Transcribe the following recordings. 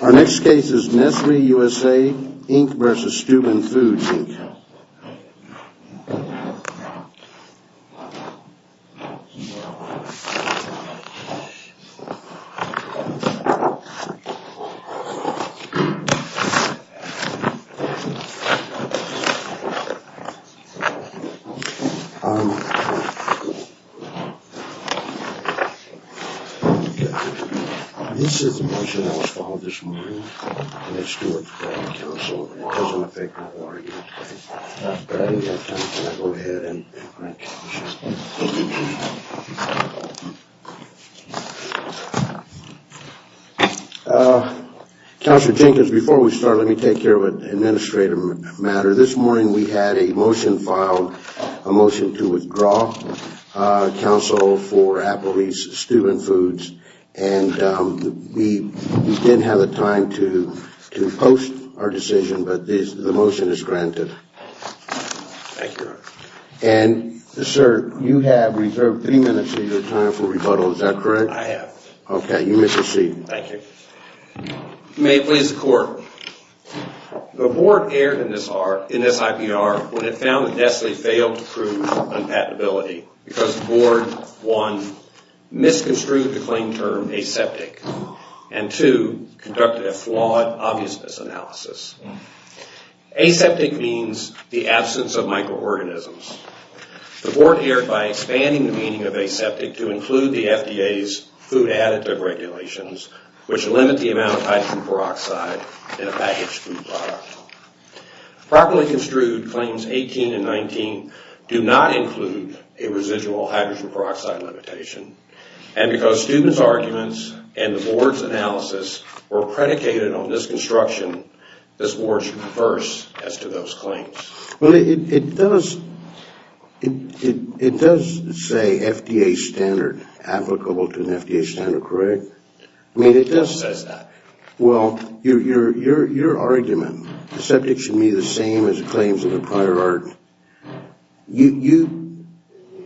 Our next case is Nestle USA, Inc. v. Steuben Foods, Inc. This is a motion that was filed this morning in the Steuben County Council. This morning we had a motion filed, a motion to withdraw council for Applebee's Steuben Foods and we didn't have the time to post our decision, but the motion is granted. And, sir, you have reserved three minutes of your time for rebuttal, is that correct? I have. Okay, you may proceed. Thank you. May it please the court, the board erred in this IPR when it found that Nestle failed to prove unpatentability because the board, one, misconstrued the claim term aseptic, and two, conducted a flawed obviousness analysis. Aseptic means the absence of microorganisms. The board erred by expanding the meaning of aseptic to include the FDA's food additive regulations, which limit the amount of hydrogen peroxide in a packaged food product. Properly construed claims 18 and 19 do not include a residual hydrogen peroxide limitation, and because Steuben's arguments and the board's analysis were predicated on this construction, this board should reverse as to those claims. Well, it does say FDA standard applicable to the FDA standard, correct? It does say that. Well, your argument, aseptic should be the same as the claims of the prior art. You,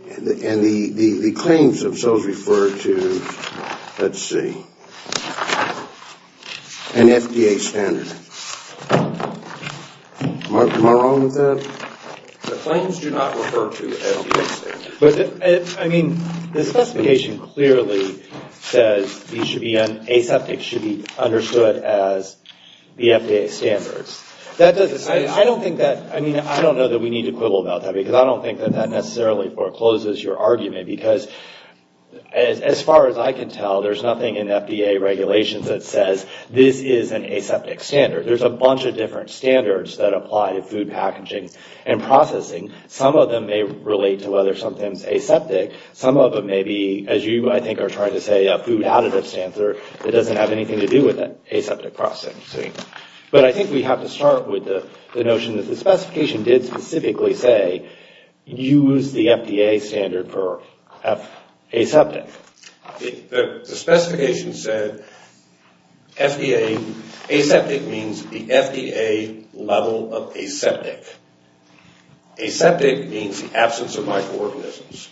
and the claims themselves refer to, let's see, an FDA standard. Am I wrong with that? The claims do not refer to the FDA standard. I mean, the specification clearly says aseptic should be understood as the FDA standards. I don't know that we need to quibble about that because I don't think that necessarily forecloses your argument because as far as I can tell, there's nothing in FDA regulations that says this is an aseptic standard. There's a bunch of different standards that apply to food packaging and processing. Some of them may relate to whether something's aseptic. Some of them may be, as you, I think, are trying to say, a food additive standard that doesn't have anything to do with aseptic processing. But I think we have to start with the notion that the specification did specifically say, use the FDA standard for aseptic. The specification said aseptic means the FDA level of aseptic. Aseptic means absence of microorganisms.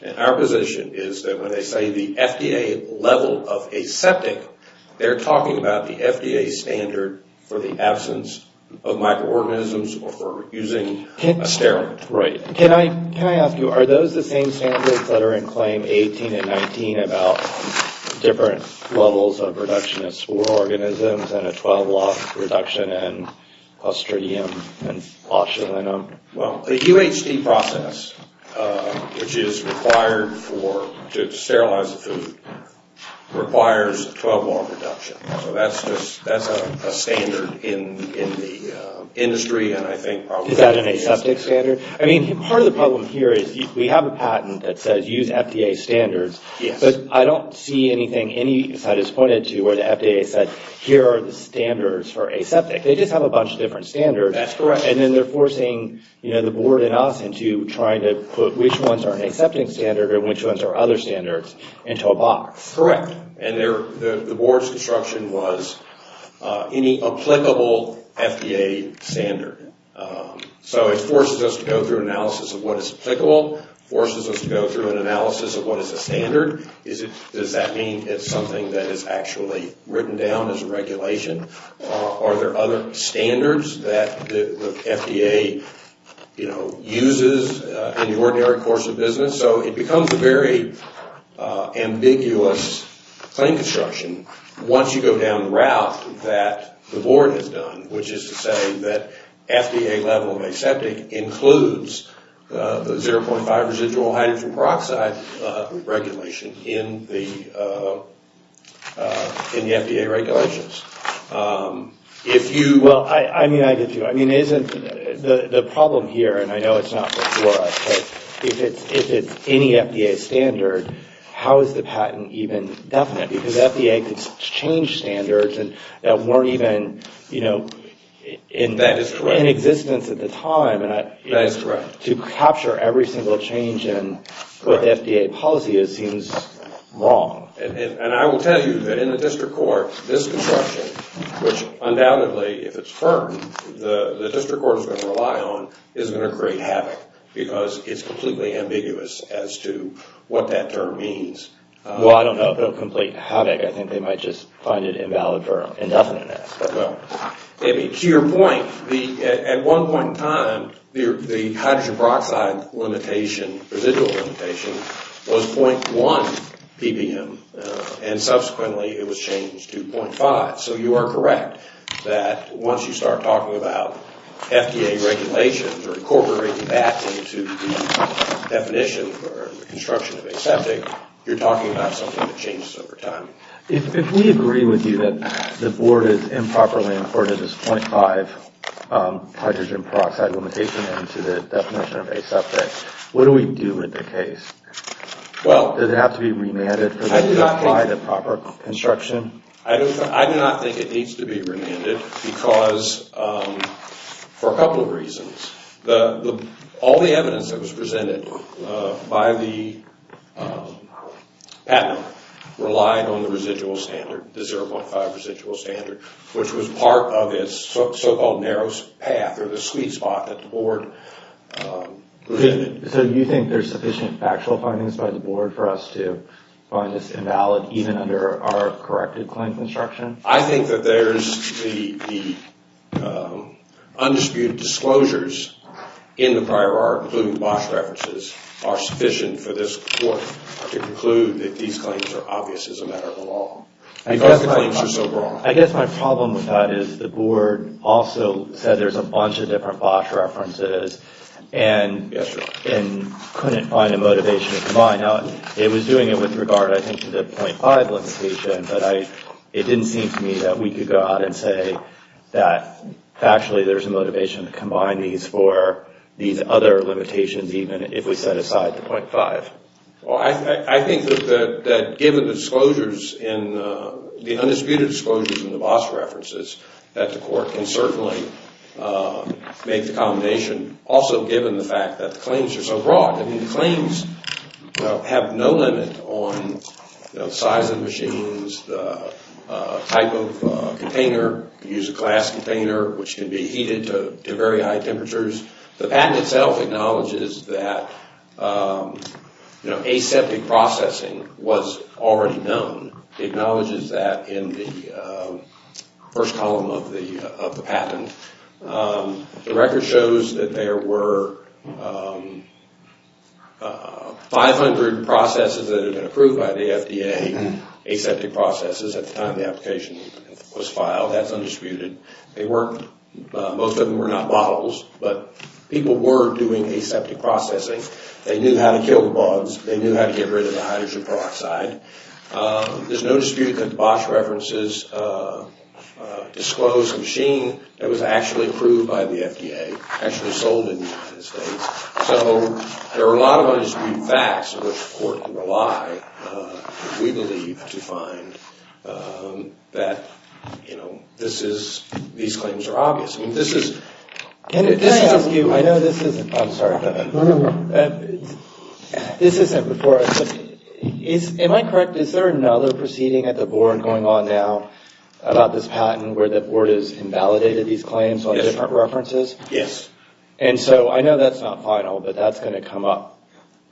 And our position is that when they say the FDA level of aseptic, they're talking about the FDA standard for the absence of microorganisms or for using a steroid. Right. Can I ask you, are those the same standards that are in Claim 18 and 19 about different levels of reduction of spore organisms and a 12-watt reduction in clostridium and flocculinum? Well, the UHT process, which is required to sterilize the food, requires a 12-watt reduction. So that's a standard in the industry and I think probably... Is that an aseptic standard? I mean, part of the problem here is we have a patent that says use FDA standards. Yes. But I don't see anything, any site has pointed to where the FDA said, here are the standards for aseptic. They just have a bunch of different standards. That's correct. And then they're forcing, you know, the board and us into trying to put which ones are an aseptic standard and which ones are other standards into a box. Correct. And the board's instruction was any applicable FDA standard. So it forces us to go through analysis of what is applicable, forces us to go through an analysis of what is a standard. Does that mean it's something that is actually written down as a regulation? Are there other standards that the FDA, you know, uses in the ordinary course of business? So it becomes a very ambiguous claim construction once you go down the route that the board has done, which is to say that FDA level of aseptic includes the 0.5 residual hydrogen peroxide regulation in the FDA regulations. Well, I get you. I mean, the problem here, and I know it's not for us, but if it's any FDA standard, how is the patent even definite? Because FDA could change standards that weren't even, you know, in existence at the time. That's correct. To capture every single change in what the FDA policy is seems wrong. And I will tell you that in the district court, this construction, which undoubtedly if it's firm, the district court is going to rely on, is going to create havoc because it's completely ambiguous as to what that term means. Well, I don't know if it will complete havoc. I think they might just find it invalid for indefiniteness. To your point, at one point in time, the hydrogen peroxide limitation, residual limitation, was 0.1 ppm, and subsequently it was changed to 0.5. So you are correct that once you start talking about FDA regulations or incorporating that into the definition or construction of aseptic, you're talking about something that changes over time. If we agree with you that the board has improperly imported this 0.5 hydrogen peroxide limitation into the definition of aseptic, what do we do with the case? Does it have to be remanded for them to apply the proper construction? I do not think it needs to be remanded because for a couple of reasons. All the evidence that was presented by the patent relied on the residual standard, the 0.5 residual standard, which was part of its so-called narrow path or the sweet spot that the board presented. So you think there's sufficient factual findings by the board for us to find this invalid even under our corrected claims instruction? I think that there's the undisputed disclosures in the prior art, including BOSH references, are sufficient for this court to conclude that these claims are obvious as a matter of the law because the claims are so broad. I guess my problem with that is the board also said there's a bunch of different BOSH references and couldn't find a motivation to combine. Now, it was doing it with regard, I think, to the 0.5 limitation, but it didn't seem to me that we could go out and say that, factually, there's a motivation to combine these for these other limitations even if we set aside the 0.5. Well, I think that given the undisputed disclosures in the BOSH references that the court can certainly make the combination, also given the fact that the claims are so broad. I mean, the claims have no limit on the size of the machines, the type of container. You can use a glass container, which can be heated to very high temperatures. The patent itself acknowledges that aseptic processing was already known. It acknowledges that in the first column of the patent. The record shows that there were 500 processes that had been approved by the FDA, aseptic processes, at the time the application was filed. That's undisputed. Most of them were not models, but people were doing aseptic processing. They knew how to kill the bugs. They knew how to get rid of the hydrogen peroxide. There's no dispute that the BOSH references disclosed a machine that was actually approved by the FDA, actually sold in the United States. So there are a lot of undisputed facts which the court can rely, we believe, to find that these claims are obvious. Can I ask you, I know this isn't before us, but am I correct, is there another proceeding at the board going on now about this patent where the board has invalidated these claims on different references? Yes. And so I know that's not final, but that's going to come up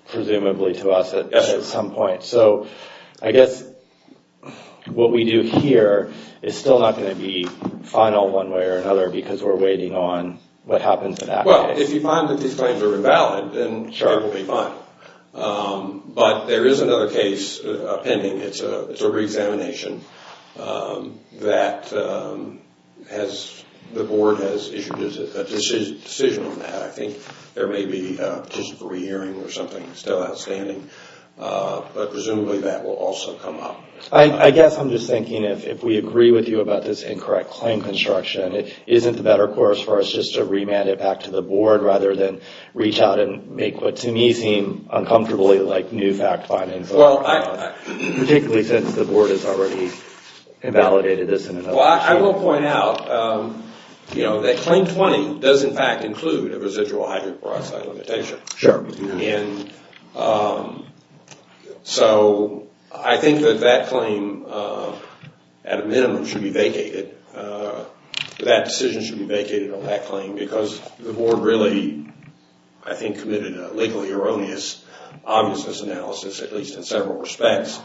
presumably to us at some point. So I guess what we do here is still not going to be final one way or another, because we're waiting on what happens in that case. Well, if you find that these claims are invalid, then it will be final. But there is another case pending. It's a re-examination that the board has issued a decision on that. I think there may be a petition for re-hearing or something still outstanding, but presumably that will also come up. I guess I'm just thinking if we agree with you about this incorrect claim construction, it isn't the better course for us just to remand it back to the board rather than reach out and make what to me seem uncomfortably like new fact findings, particularly since the board has already invalidated this. Well, I will point out that Claim 20 does in fact include a residual hydroperoxide limitation. Sure. So I think that that claim at a minimum should be vacated. That decision should be vacated on that claim because the board really, I think, committed a legally erroneous obviousness analysis, at least in several respects.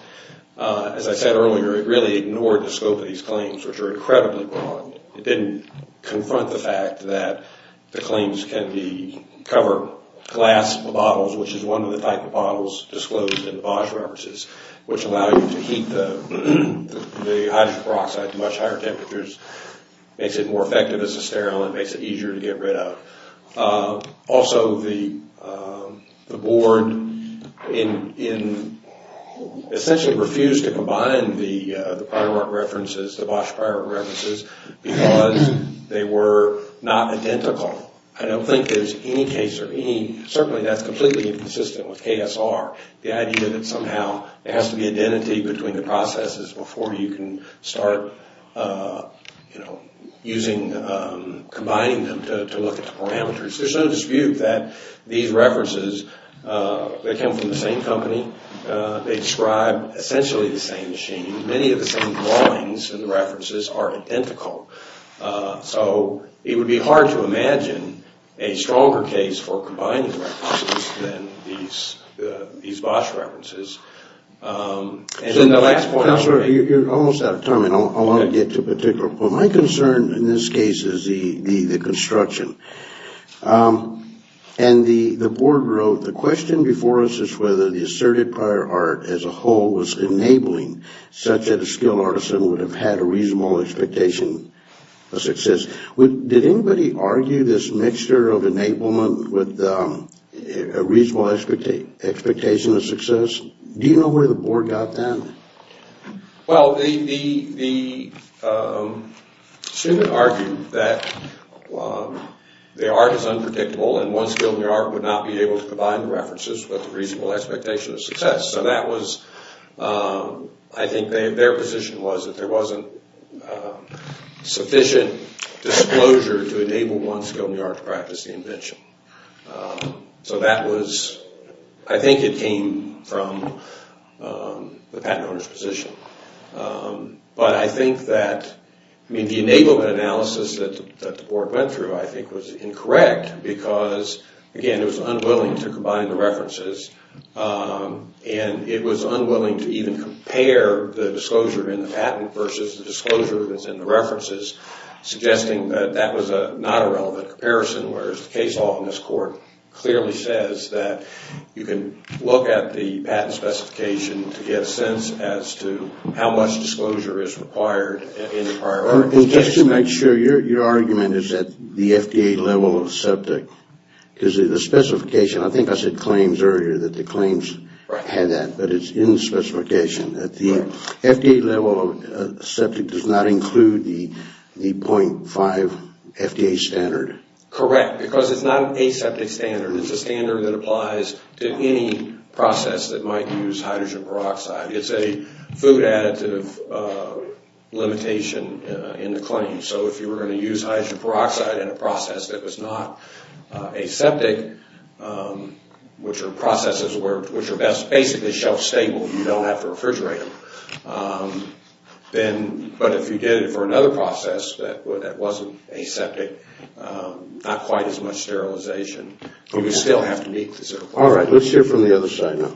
As I said earlier, it really ignored the scope of these claims, which are incredibly broad. It didn't confront the fact that the claims can cover glass bottles, which is one of the type of bottles disclosed in the Bosch references, which allow you to heat the hydroperoxide to much higher temperatures, makes it more effective as a sterile, and makes it easier to get rid of. Also, the board essentially refused to combine the Bosch prior art references because they were not identical. I don't think there's any case, certainly that's completely inconsistent with KSR, the idea that somehow there has to be identity between the processes before you can start combining them to look at the parameters. There's no dispute that these references, they come from the same company. They describe essentially the same machine. Many of the same drawings in the references are identical. So it would be hard to imagine a stronger case for combining references than these Bosch references. You're almost out of time, and I want to get to a particular point. My concern in this case is the construction. The board wrote, the question before us is whether the asserted prior art as a whole was enabling such that a skilled artisan would have had a reasonable expectation of success. Did anybody argue this mixture of enablement with a reasonable expectation of success? Do you know where the board got that? Well, the student argued that the art is unpredictable, and one skilled artisan would not be able to combine the references with a reasonable expectation of success. So that was, I think their position was that there wasn't sufficient disclosure to enable one skilled new art to practice the invention. So that was, I think it came from the patent owner's position. But I think that the enablement analysis that the board went through I think was incorrect because, again, it was unwilling to combine the references, and it was unwilling to even compare the disclosure in the patent versus the disclosure that's in the references, suggesting that that was not a relevant comparison, whereas the case law in this court clearly says that you can look at the patent specification to get a sense as to how much disclosure is required in the prior art. Just to make sure, your argument is that the FDA level of septic, because the specification, I think I said claims earlier that the claims had that, but it's in the specification that the FDA level of septic does not include the 0.5 FDA standard. Correct, because it's not a septic standard. It's a standard that applies to any process that might use hydrogen peroxide. It's a food additive limitation in the claim. So if you were going to use hydrogen peroxide in a process that was not a septic, which are processes which are basically shelf-stable, you don't have to refrigerate them. But if you did it for another process that wasn't a septic, not quite as much sterilization, you would still have to meet the 0.5 standard. All right, let's hear from the other side now.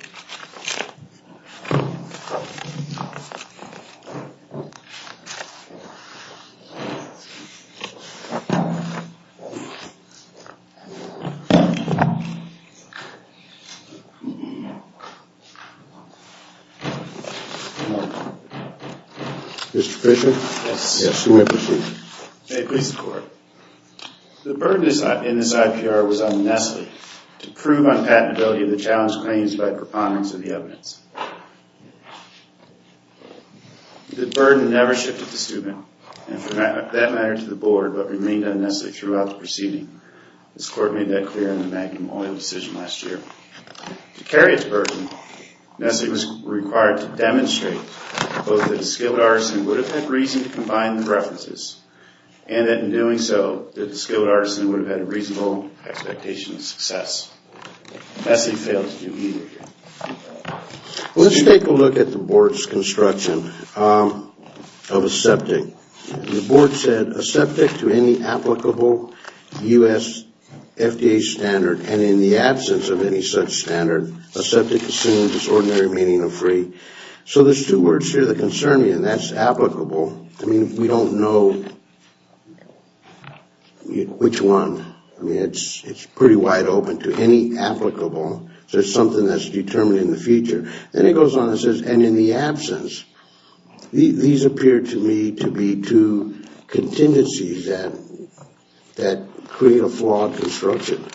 Mr. Fisher? Yes. Yes, you may proceed. May it please the Court. The burden in this IPR was on Nestle to prove unpatentability of the challenged claims by proponents of the evidence. The burden never shifted to student, and for that matter to the Board, but remained on Nestle throughout the proceeding. This Court made that clear in the Magnum Oil decision last year. To carry its burden, Nestle was required to demonstrate both that a skilled artisan would have had reason to combine the references, and that in doing so, that a skilled artisan would have had a reasonable expectation of success. Nestle failed to do either. Let's take a look at the Board's construction of a septic. The Board said, a septic to any applicable U.S. FDA standard, and in the absence of any such standard, a septic assumed its ordinary meaning of free. So there's two words here that concern me, and that's applicable. I mean, we don't know which one. I mean, it's pretty wide open to any applicable. There's something that's determined in the future. Then it goes on and says, and in the absence. These appear to me to be two contingencies that create a flawed construction.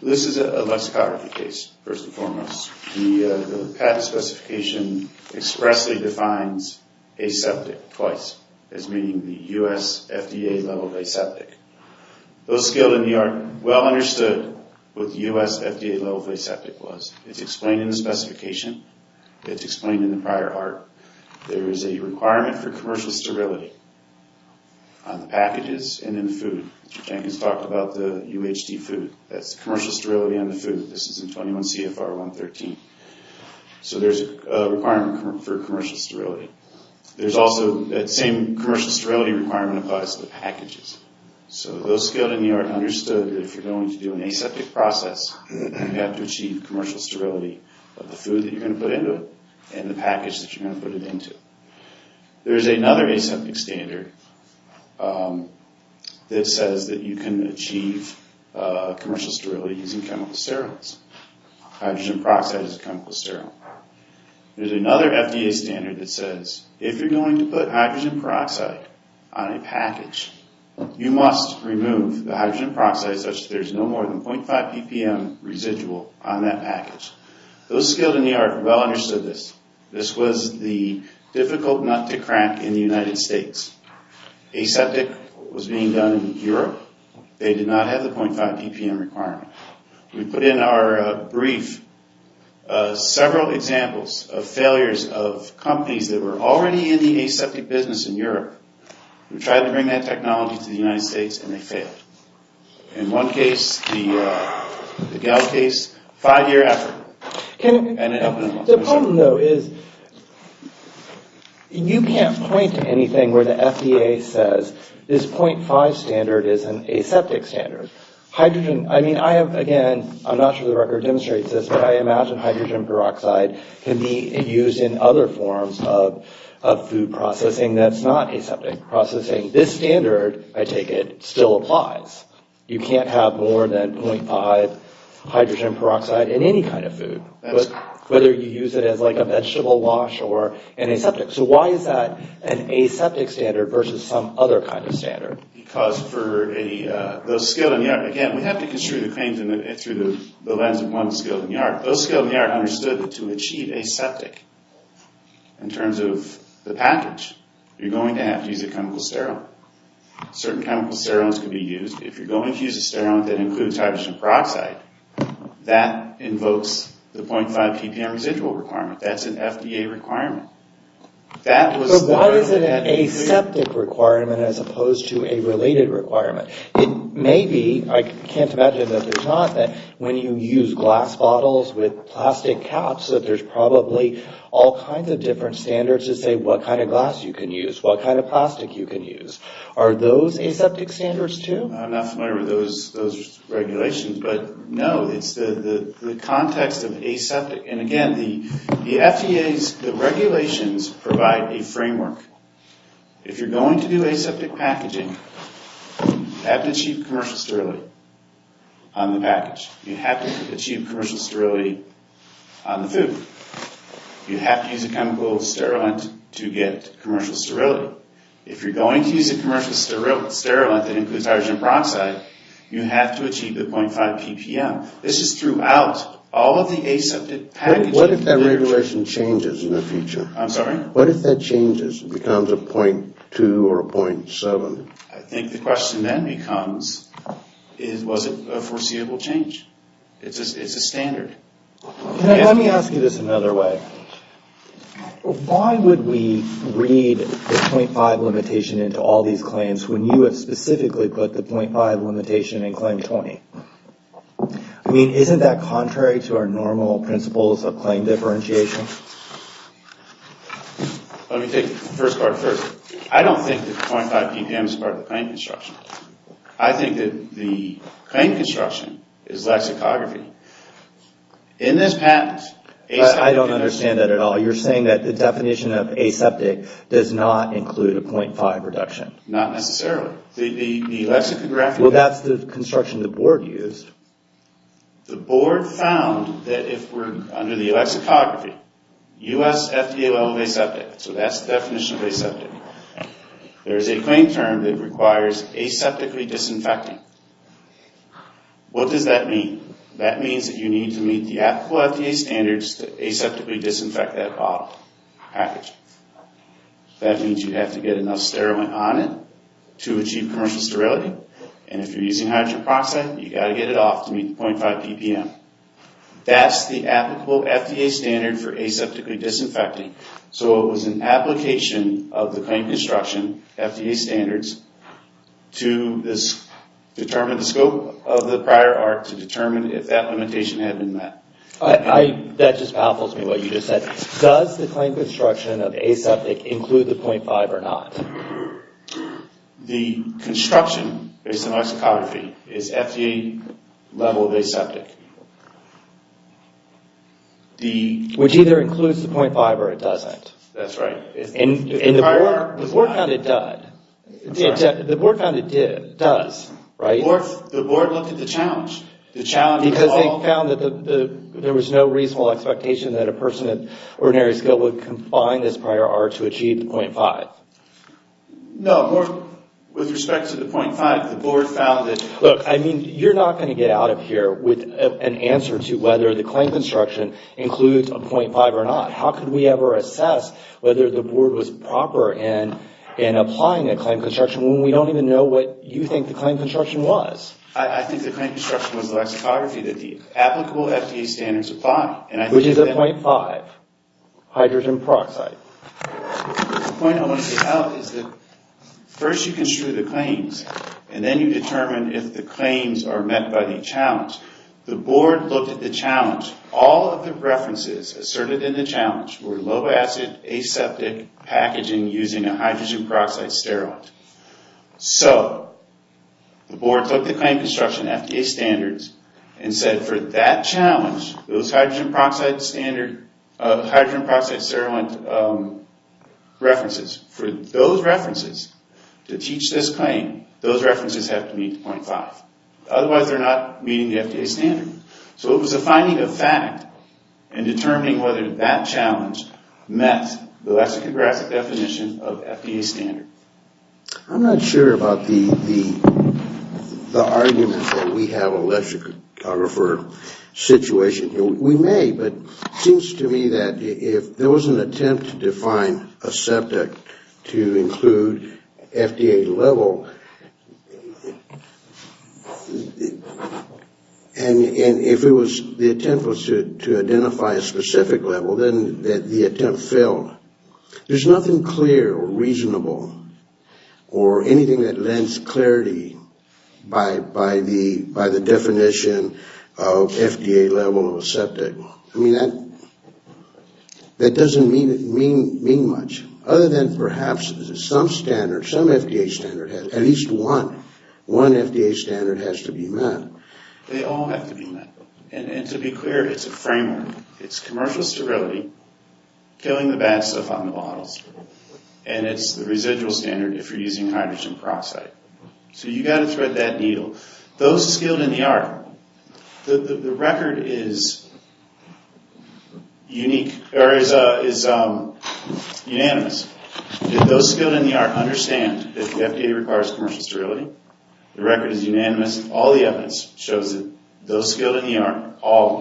This is a lexicography case, first and foremost. The patent specification expressly defines a septic twice, as meaning the U.S. FDA level of a septic. Those skilled in the art well understood what the U.S. FDA level of a septic was. It's explained in the specification. It's explained in the prior art. There is a requirement for commercial sterility on the packages and in the food. Mr. Jenkins talked about the UHD food. That's commercial sterility on the food. This is in 21 CFR 113. So there's a requirement for commercial sterility. There's also that same commercial sterility requirement applies to the packages. So those skilled in the art understood that if you're going to do an aseptic process, you have to achieve commercial sterility of the food that you're going to put into it and the package that you're going to put it into. There's another aseptic standard that says that you can achieve commercial sterility using chemical steriles. Hydrogen peroxide is a chemical sterile. There's another FDA standard that says if you're going to put hydrogen peroxide on a package, you must remove the hydrogen peroxide such that there's no more than 0.5 ppm residual on that package. Those skilled in the art well understood this. This was the difficult nut to crack in the United States. Aseptic was being done in Europe. They did not have the 0.5 ppm requirement. We put in our brief several examples of failures of companies that were already in the aseptic business in Europe. We tried to bring that technology to the United States and they failed. In one case, the Gall case, five year effort. The problem though is you can't point to anything where the FDA says this 0.5 standard is an aseptic standard. Hydrogen, I mean, I have again, I'm not sure the record demonstrates this, but I imagine hydrogen peroxide can be used in other forms of food processing that's not aseptic processing. This standard, I take it, still applies. You can't have more than 0.5 hydrogen peroxide in any kind of food, whether you use it as like a vegetable wash or an aseptic. So why is that an aseptic standard versus some other kind of standard? Because for those skilled in the art, again, we have to construe the claims through the lens of one skilled in the art. Those skilled in the art understood that to achieve aseptic in terms of the package, you're going to have to use a chemical steroid. Certain chemical steroids can be used. If you're going to use a steroid that includes hydrogen peroxide, that invokes the 0.5 TPM residual requirement. That's an FDA requirement. So why is it an aseptic requirement as opposed to a related requirement? It may be, I can't imagine that there's not, that when you use glass bottles with plastic caps, that there's probably all kinds of different standards to say what kind of glass you can use, what kind of plastic you can use. Are those aseptic standards too? I'm not familiar with those regulations, but no, it's the context of aseptic. And again, the FDA's regulations provide a framework. If you're going to do aseptic packaging, you have to achieve commercial sterility on the package. You have to achieve commercial sterility on the food. You have to use a chemical steroid to get commercial sterility. If you're going to use a commercial steroid that includes hydrogen peroxide, you have to achieve the 0.5 TPM. This is throughout all of the aseptic packaging. What if that regulation changes in the future? I'm sorry? What if that changes and becomes a 0.2 or a 0.7? I think the question then becomes, was it a foreseeable change? It's a standard. Let me ask you this another way. Why would we read the 0.5 limitation into all these claims when you have specifically put the 0.5 limitation in claim 20? I mean, isn't that contrary to our normal principles of claim differentiation? Let me take the first part first. I don't think that 0.5 TPM is part of the claim construction. I think that the claim construction is lexicography. In this patent, aseptic... I don't understand that at all. You're saying that the definition of aseptic does not include a 0.5 reduction? Not necessarily. The lexicographic... Well, that's the construction the board used. The board found that if we're under the alexicography, U.S. FDA level of aseptic. So that's the definition of aseptic. There is a claim term that requires aseptically disinfecting. What does that mean? That means that you need to meet the applicable FDA standards to aseptically disinfect that bottle package. That means you have to get enough sterilant on it to achieve commercial sterility. And if you're using hydroxide, you've got to get it off to meet the 0.5 PPM. That's the applicable FDA standard for aseptically disinfecting. So it was an application of the claim construction FDA standards to determine the scope of the prior arc to determine if that limitation had been met. That just baffles me what you just said. Does the claim construction of aseptic include the 0.5 or not? The construction based on alexicography is FDA level of aseptic. Which either includes the 0.5 or it doesn't. That's right. And the board found it does. The board found it does, right? The board looked at the challenge. Because they found that there was no reasonable expectation that a person of ordinary skill would combine this prior arc to achieve the 0.5. No, with respect to the 0.5, the board found that... Look, I mean, you're not going to get out of here with an answer to whether the claim construction includes a 0.5 or not. How could we ever assess whether the board was proper in applying a claim construction when we don't even know what you think the claim construction was? I think the claim construction was the alexicography that the applicable FDA standards apply. Which is a 0.5 hydrogen peroxide. The point I want to get out is that first you construe the claims and then you determine if the claims are met by the challenge. The board looked at the challenge. All of the references asserted in the challenge were low acid aseptic packaging using a hydrogen peroxide sterile. So, the board took the claim construction FDA standards and said for that challenge, those hydrogen peroxide sterile references, for those references to teach this claim, those references have to meet 0.5. Otherwise, they're not meeting the FDA standard. So, it was a finding of fact in determining whether that challenge met the lexicographic definition of FDA standard. I'm not sure about the argument that we have a lexicographer situation. We may, but it seems to me that if there was an attempt to define aseptic to include FDA level, and if the attempt was to identify a specific level, then the attempt failed. There's nothing clear or reasonable or anything that lends clarity by the definition of FDA level of aseptic. I mean, that doesn't mean much. Other than perhaps some standard, some FDA standard, at least one FDA standard has to be met. They all have to be met. And to be clear, it's a framework. It's commercial sterility, killing the bad stuff on the bottles, and it's the residual standard if you're using hydrogen peroxide. So, you've got to thread that needle. Those skilled in the art, the record is unanimous. Those skilled in the art understand that the FDA requires commercial sterility. The record is unanimous. All the evidence shows that those skilled in the art,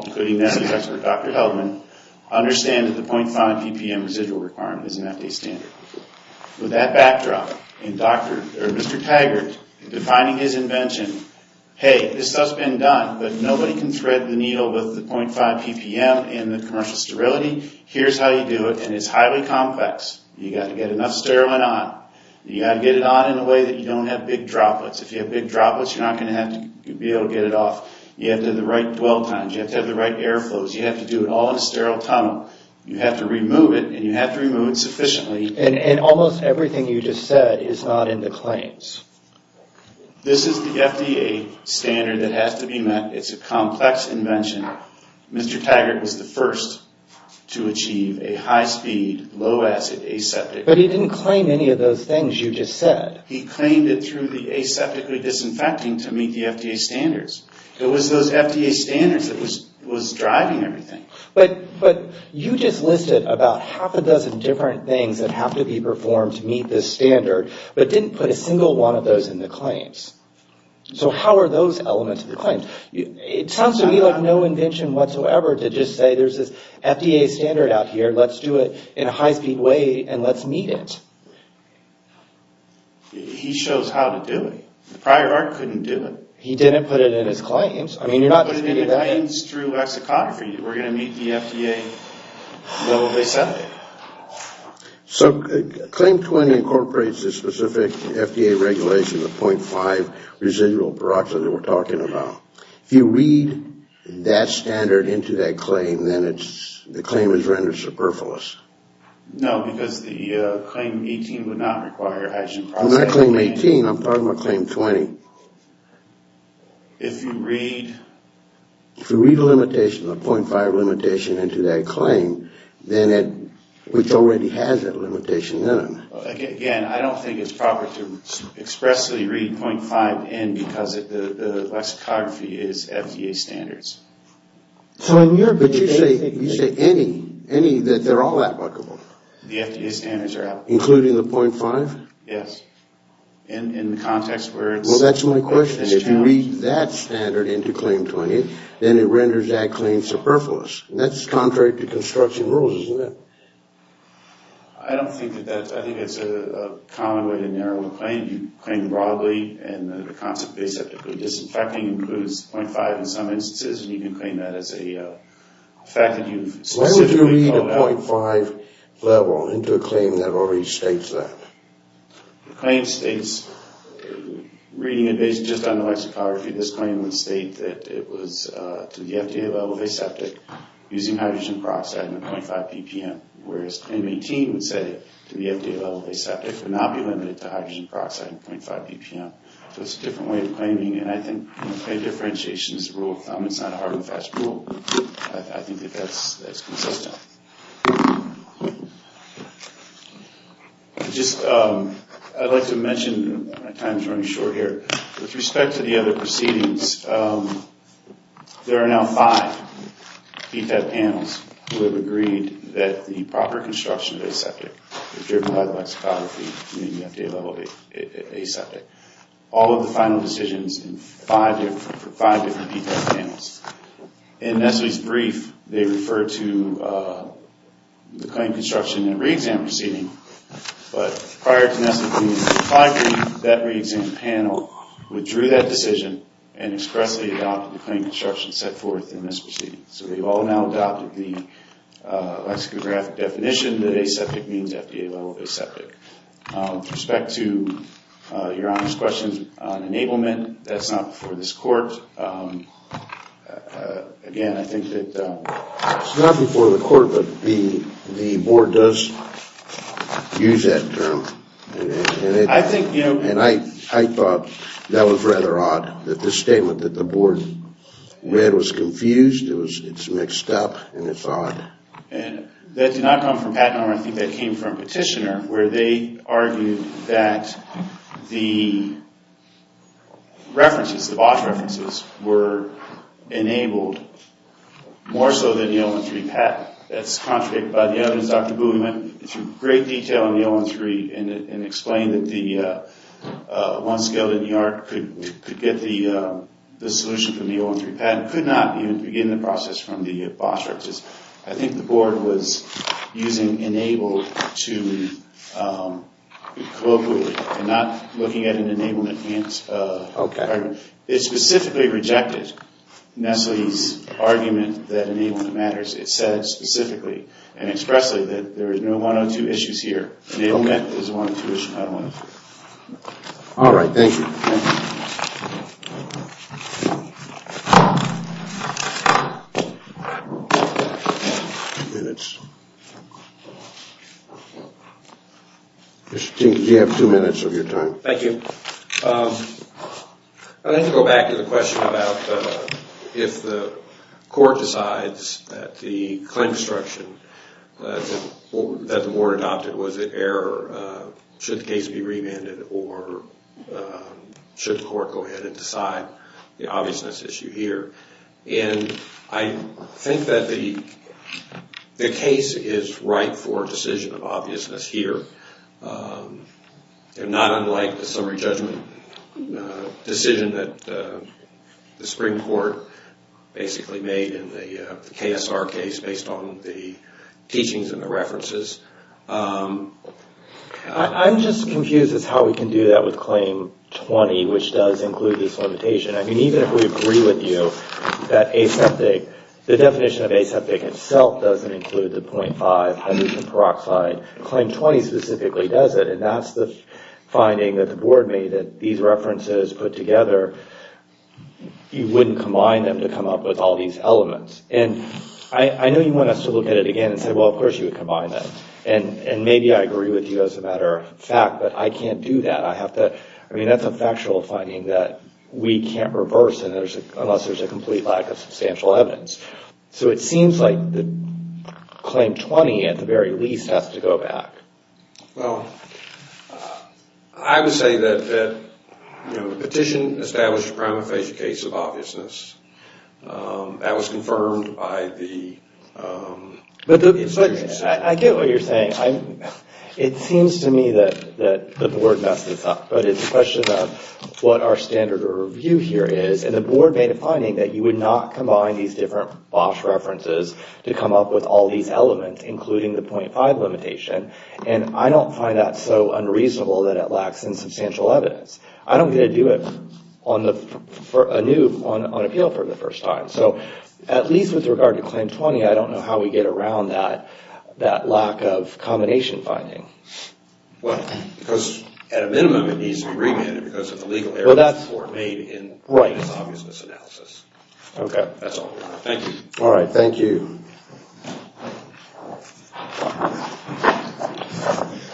including Dr. Heldman, understand that the .5 ppm residual requirement is an FDA standard. With that backdrop, and Mr. Taggart defining his invention, hey, this stuff's been done, but nobody can thread the needle with the .5 ppm and the commercial sterility. Here's how you do it, and it's highly complex. You've got to get enough sterling on. You've got to get it on in a way that you don't have big droplets. If you have big droplets, you're not going to be able to get it off. You have to have the right dwell times. You have to have the right air flows. You have to do it all in a sterile tunnel. You have to remove it, and you have to remove it sufficiently. And almost everything you just said is not in the claims. This is the FDA standard that has to be met. It's a complex invention. Mr. Taggart was the first to achieve a high-speed, low-acid, aseptic. But he didn't claim any of those things you just said. He claimed it through the aseptically disinfecting to meet the FDA standards. It was those FDA standards that was driving everything. But you just listed about half a dozen different things that have to be performed to meet this standard, but didn't put a single one of those in the claims. So how are those elements of the claims? It sounds to me like no invention whatsoever to just say there's this FDA standard out here. Let's do it in a high-speed way, and let's meet it. He shows how to do it. The prior art couldn't do it. He didn't put it in his claims. He put it in his claims through lexicography. We're going to meet the FDA level of aseptic. So Claim 20 incorporates the specific FDA regulations of 0.5 residual peroxide that we're talking about. If you read that standard into that claim, then the claim is rendered superfluous. No, because the Claim 18 would not require hydrogen peroxide. I'm not Claim 18. I'm talking about Claim 20. If you read... If you read a limitation, a 0.5 limitation into that claim, then it already has that limitation in it. Again, I don't think it's proper to expressly read 0.5 in because the lexicography is FDA standards. But you say any, that they're all applicable. The FDA standards are applicable. Including the 0.5? Yes. In the context where it's challenged. Well, that's my question. If you read that standard into Claim 20, then it renders that claim superfluous. That's contrary to construction rules, isn't it? I don't think that that's... I think it's a common way to narrow the claim. You claim broadly and the concept of aseptically disinfecting includes 0.5 in some instances, and you can claim that as a fact that you've specifically called out. into a claim that already states that. The claim states, reading it based just on the lexicography, this claim would state that it was to the FDA level of aseptic using hydrogen peroxide and 0.5 ppm, whereas Claim 18 would say to the FDA level of aseptic but not be limited to hydrogen peroxide and 0.5 ppm. So it's a different way of claiming, and I think a differentiation is a rule of thumb. It's not a hard and fast rule. I think that that's consistent. I'd like to mention... My time is running short here. With respect to the other proceedings, there are now five PFAB panels who have agreed that the proper construction of aseptic is driven by the lexicography in the FDA level of aseptic. All of the final decisions for five different PFAB panels. In Nestle's brief, they refer to the claim construction and re-exam proceeding, but prior to Nestle's five brief, that re-exam panel withdrew that decision and expressly adopted the claim construction set forth in this proceeding. So we've all now adopted the lexicographic definition that aseptic means FDA level of aseptic. With respect to Your Honor's question on enablement, that's not before this court. Again, I think that... It's not before the court, but the board does use that term. And I thought that was rather odd, that this statement that the board read was confused. It's mixed up, and it's odd. And that did not come from Pat Norman. I think that came from Petitioner, where they argued that the references, the BOSH references, were enabled more so than the L1-3 patent. That's contradicted by the evidence. Dr. Booley went into great detail on the L1-3 and explained that the one skeleton yard could get the solution from the L1-3 patent, could not even begin the process from the BOSH references. I think the board was using enable to... And not looking at an enablement... It specifically rejected Nestle's argument that enablement matters. It said specifically and expressly that there is no one or two issues here. Enablement is one of the two issues. All right, thank you. Two minutes. Mr. King, you have two minutes of your time. Thank you. I'd like to go back to the question about if the court decides that the claim construction that the board adopted was an error, should the case be remanded, or should the court go ahead and decide the obviousness issue here? I think that the case is right for a decision of obviousness here. Not unlike the summary judgment decision that the Supreme Court basically made in the KSR case based on the teachings and the references. I'm just confused as to how we can do that with Claim 20, which does include this limitation. I mean, even if we agree with you that aseptic... The definition of aseptic itself doesn't include the 0.5 hydrogen peroxide. Claim 20 specifically does it, and that's the finding that the board made that these references put together, you wouldn't combine them to come up with all these elements. And I know you want us to look at it again and say, well, of course you would combine them. And maybe I agree with you as a matter of fact, but I can't do that. I mean, that's a factual finding that we can't reverse unless there's a complete lack of substantial evidence. So it seems like the Claim 20, at the very least, has to go back. Well, I would say that the petition established a prima facie case of obviousness. That was confirmed by the institution. I get what you're saying. It seems to me that the board messed this up, but it's a question of what our standard of review here is. And the board made a finding that you would not combine these different BOSH references to come up with all these elements, including the 0.5 limitation. And I don't find that so unreasonable that it lacks in substantial evidence. I don't get to do it on appeal for the first time. So at least with regard to Claim 20, I don't know how we get around that lack of combination finding. Well, because at a minimum, it needs to be remanded because of the legal error that the board made in its obviousness analysis. Okay. That's all. Thank you. All right, thank you.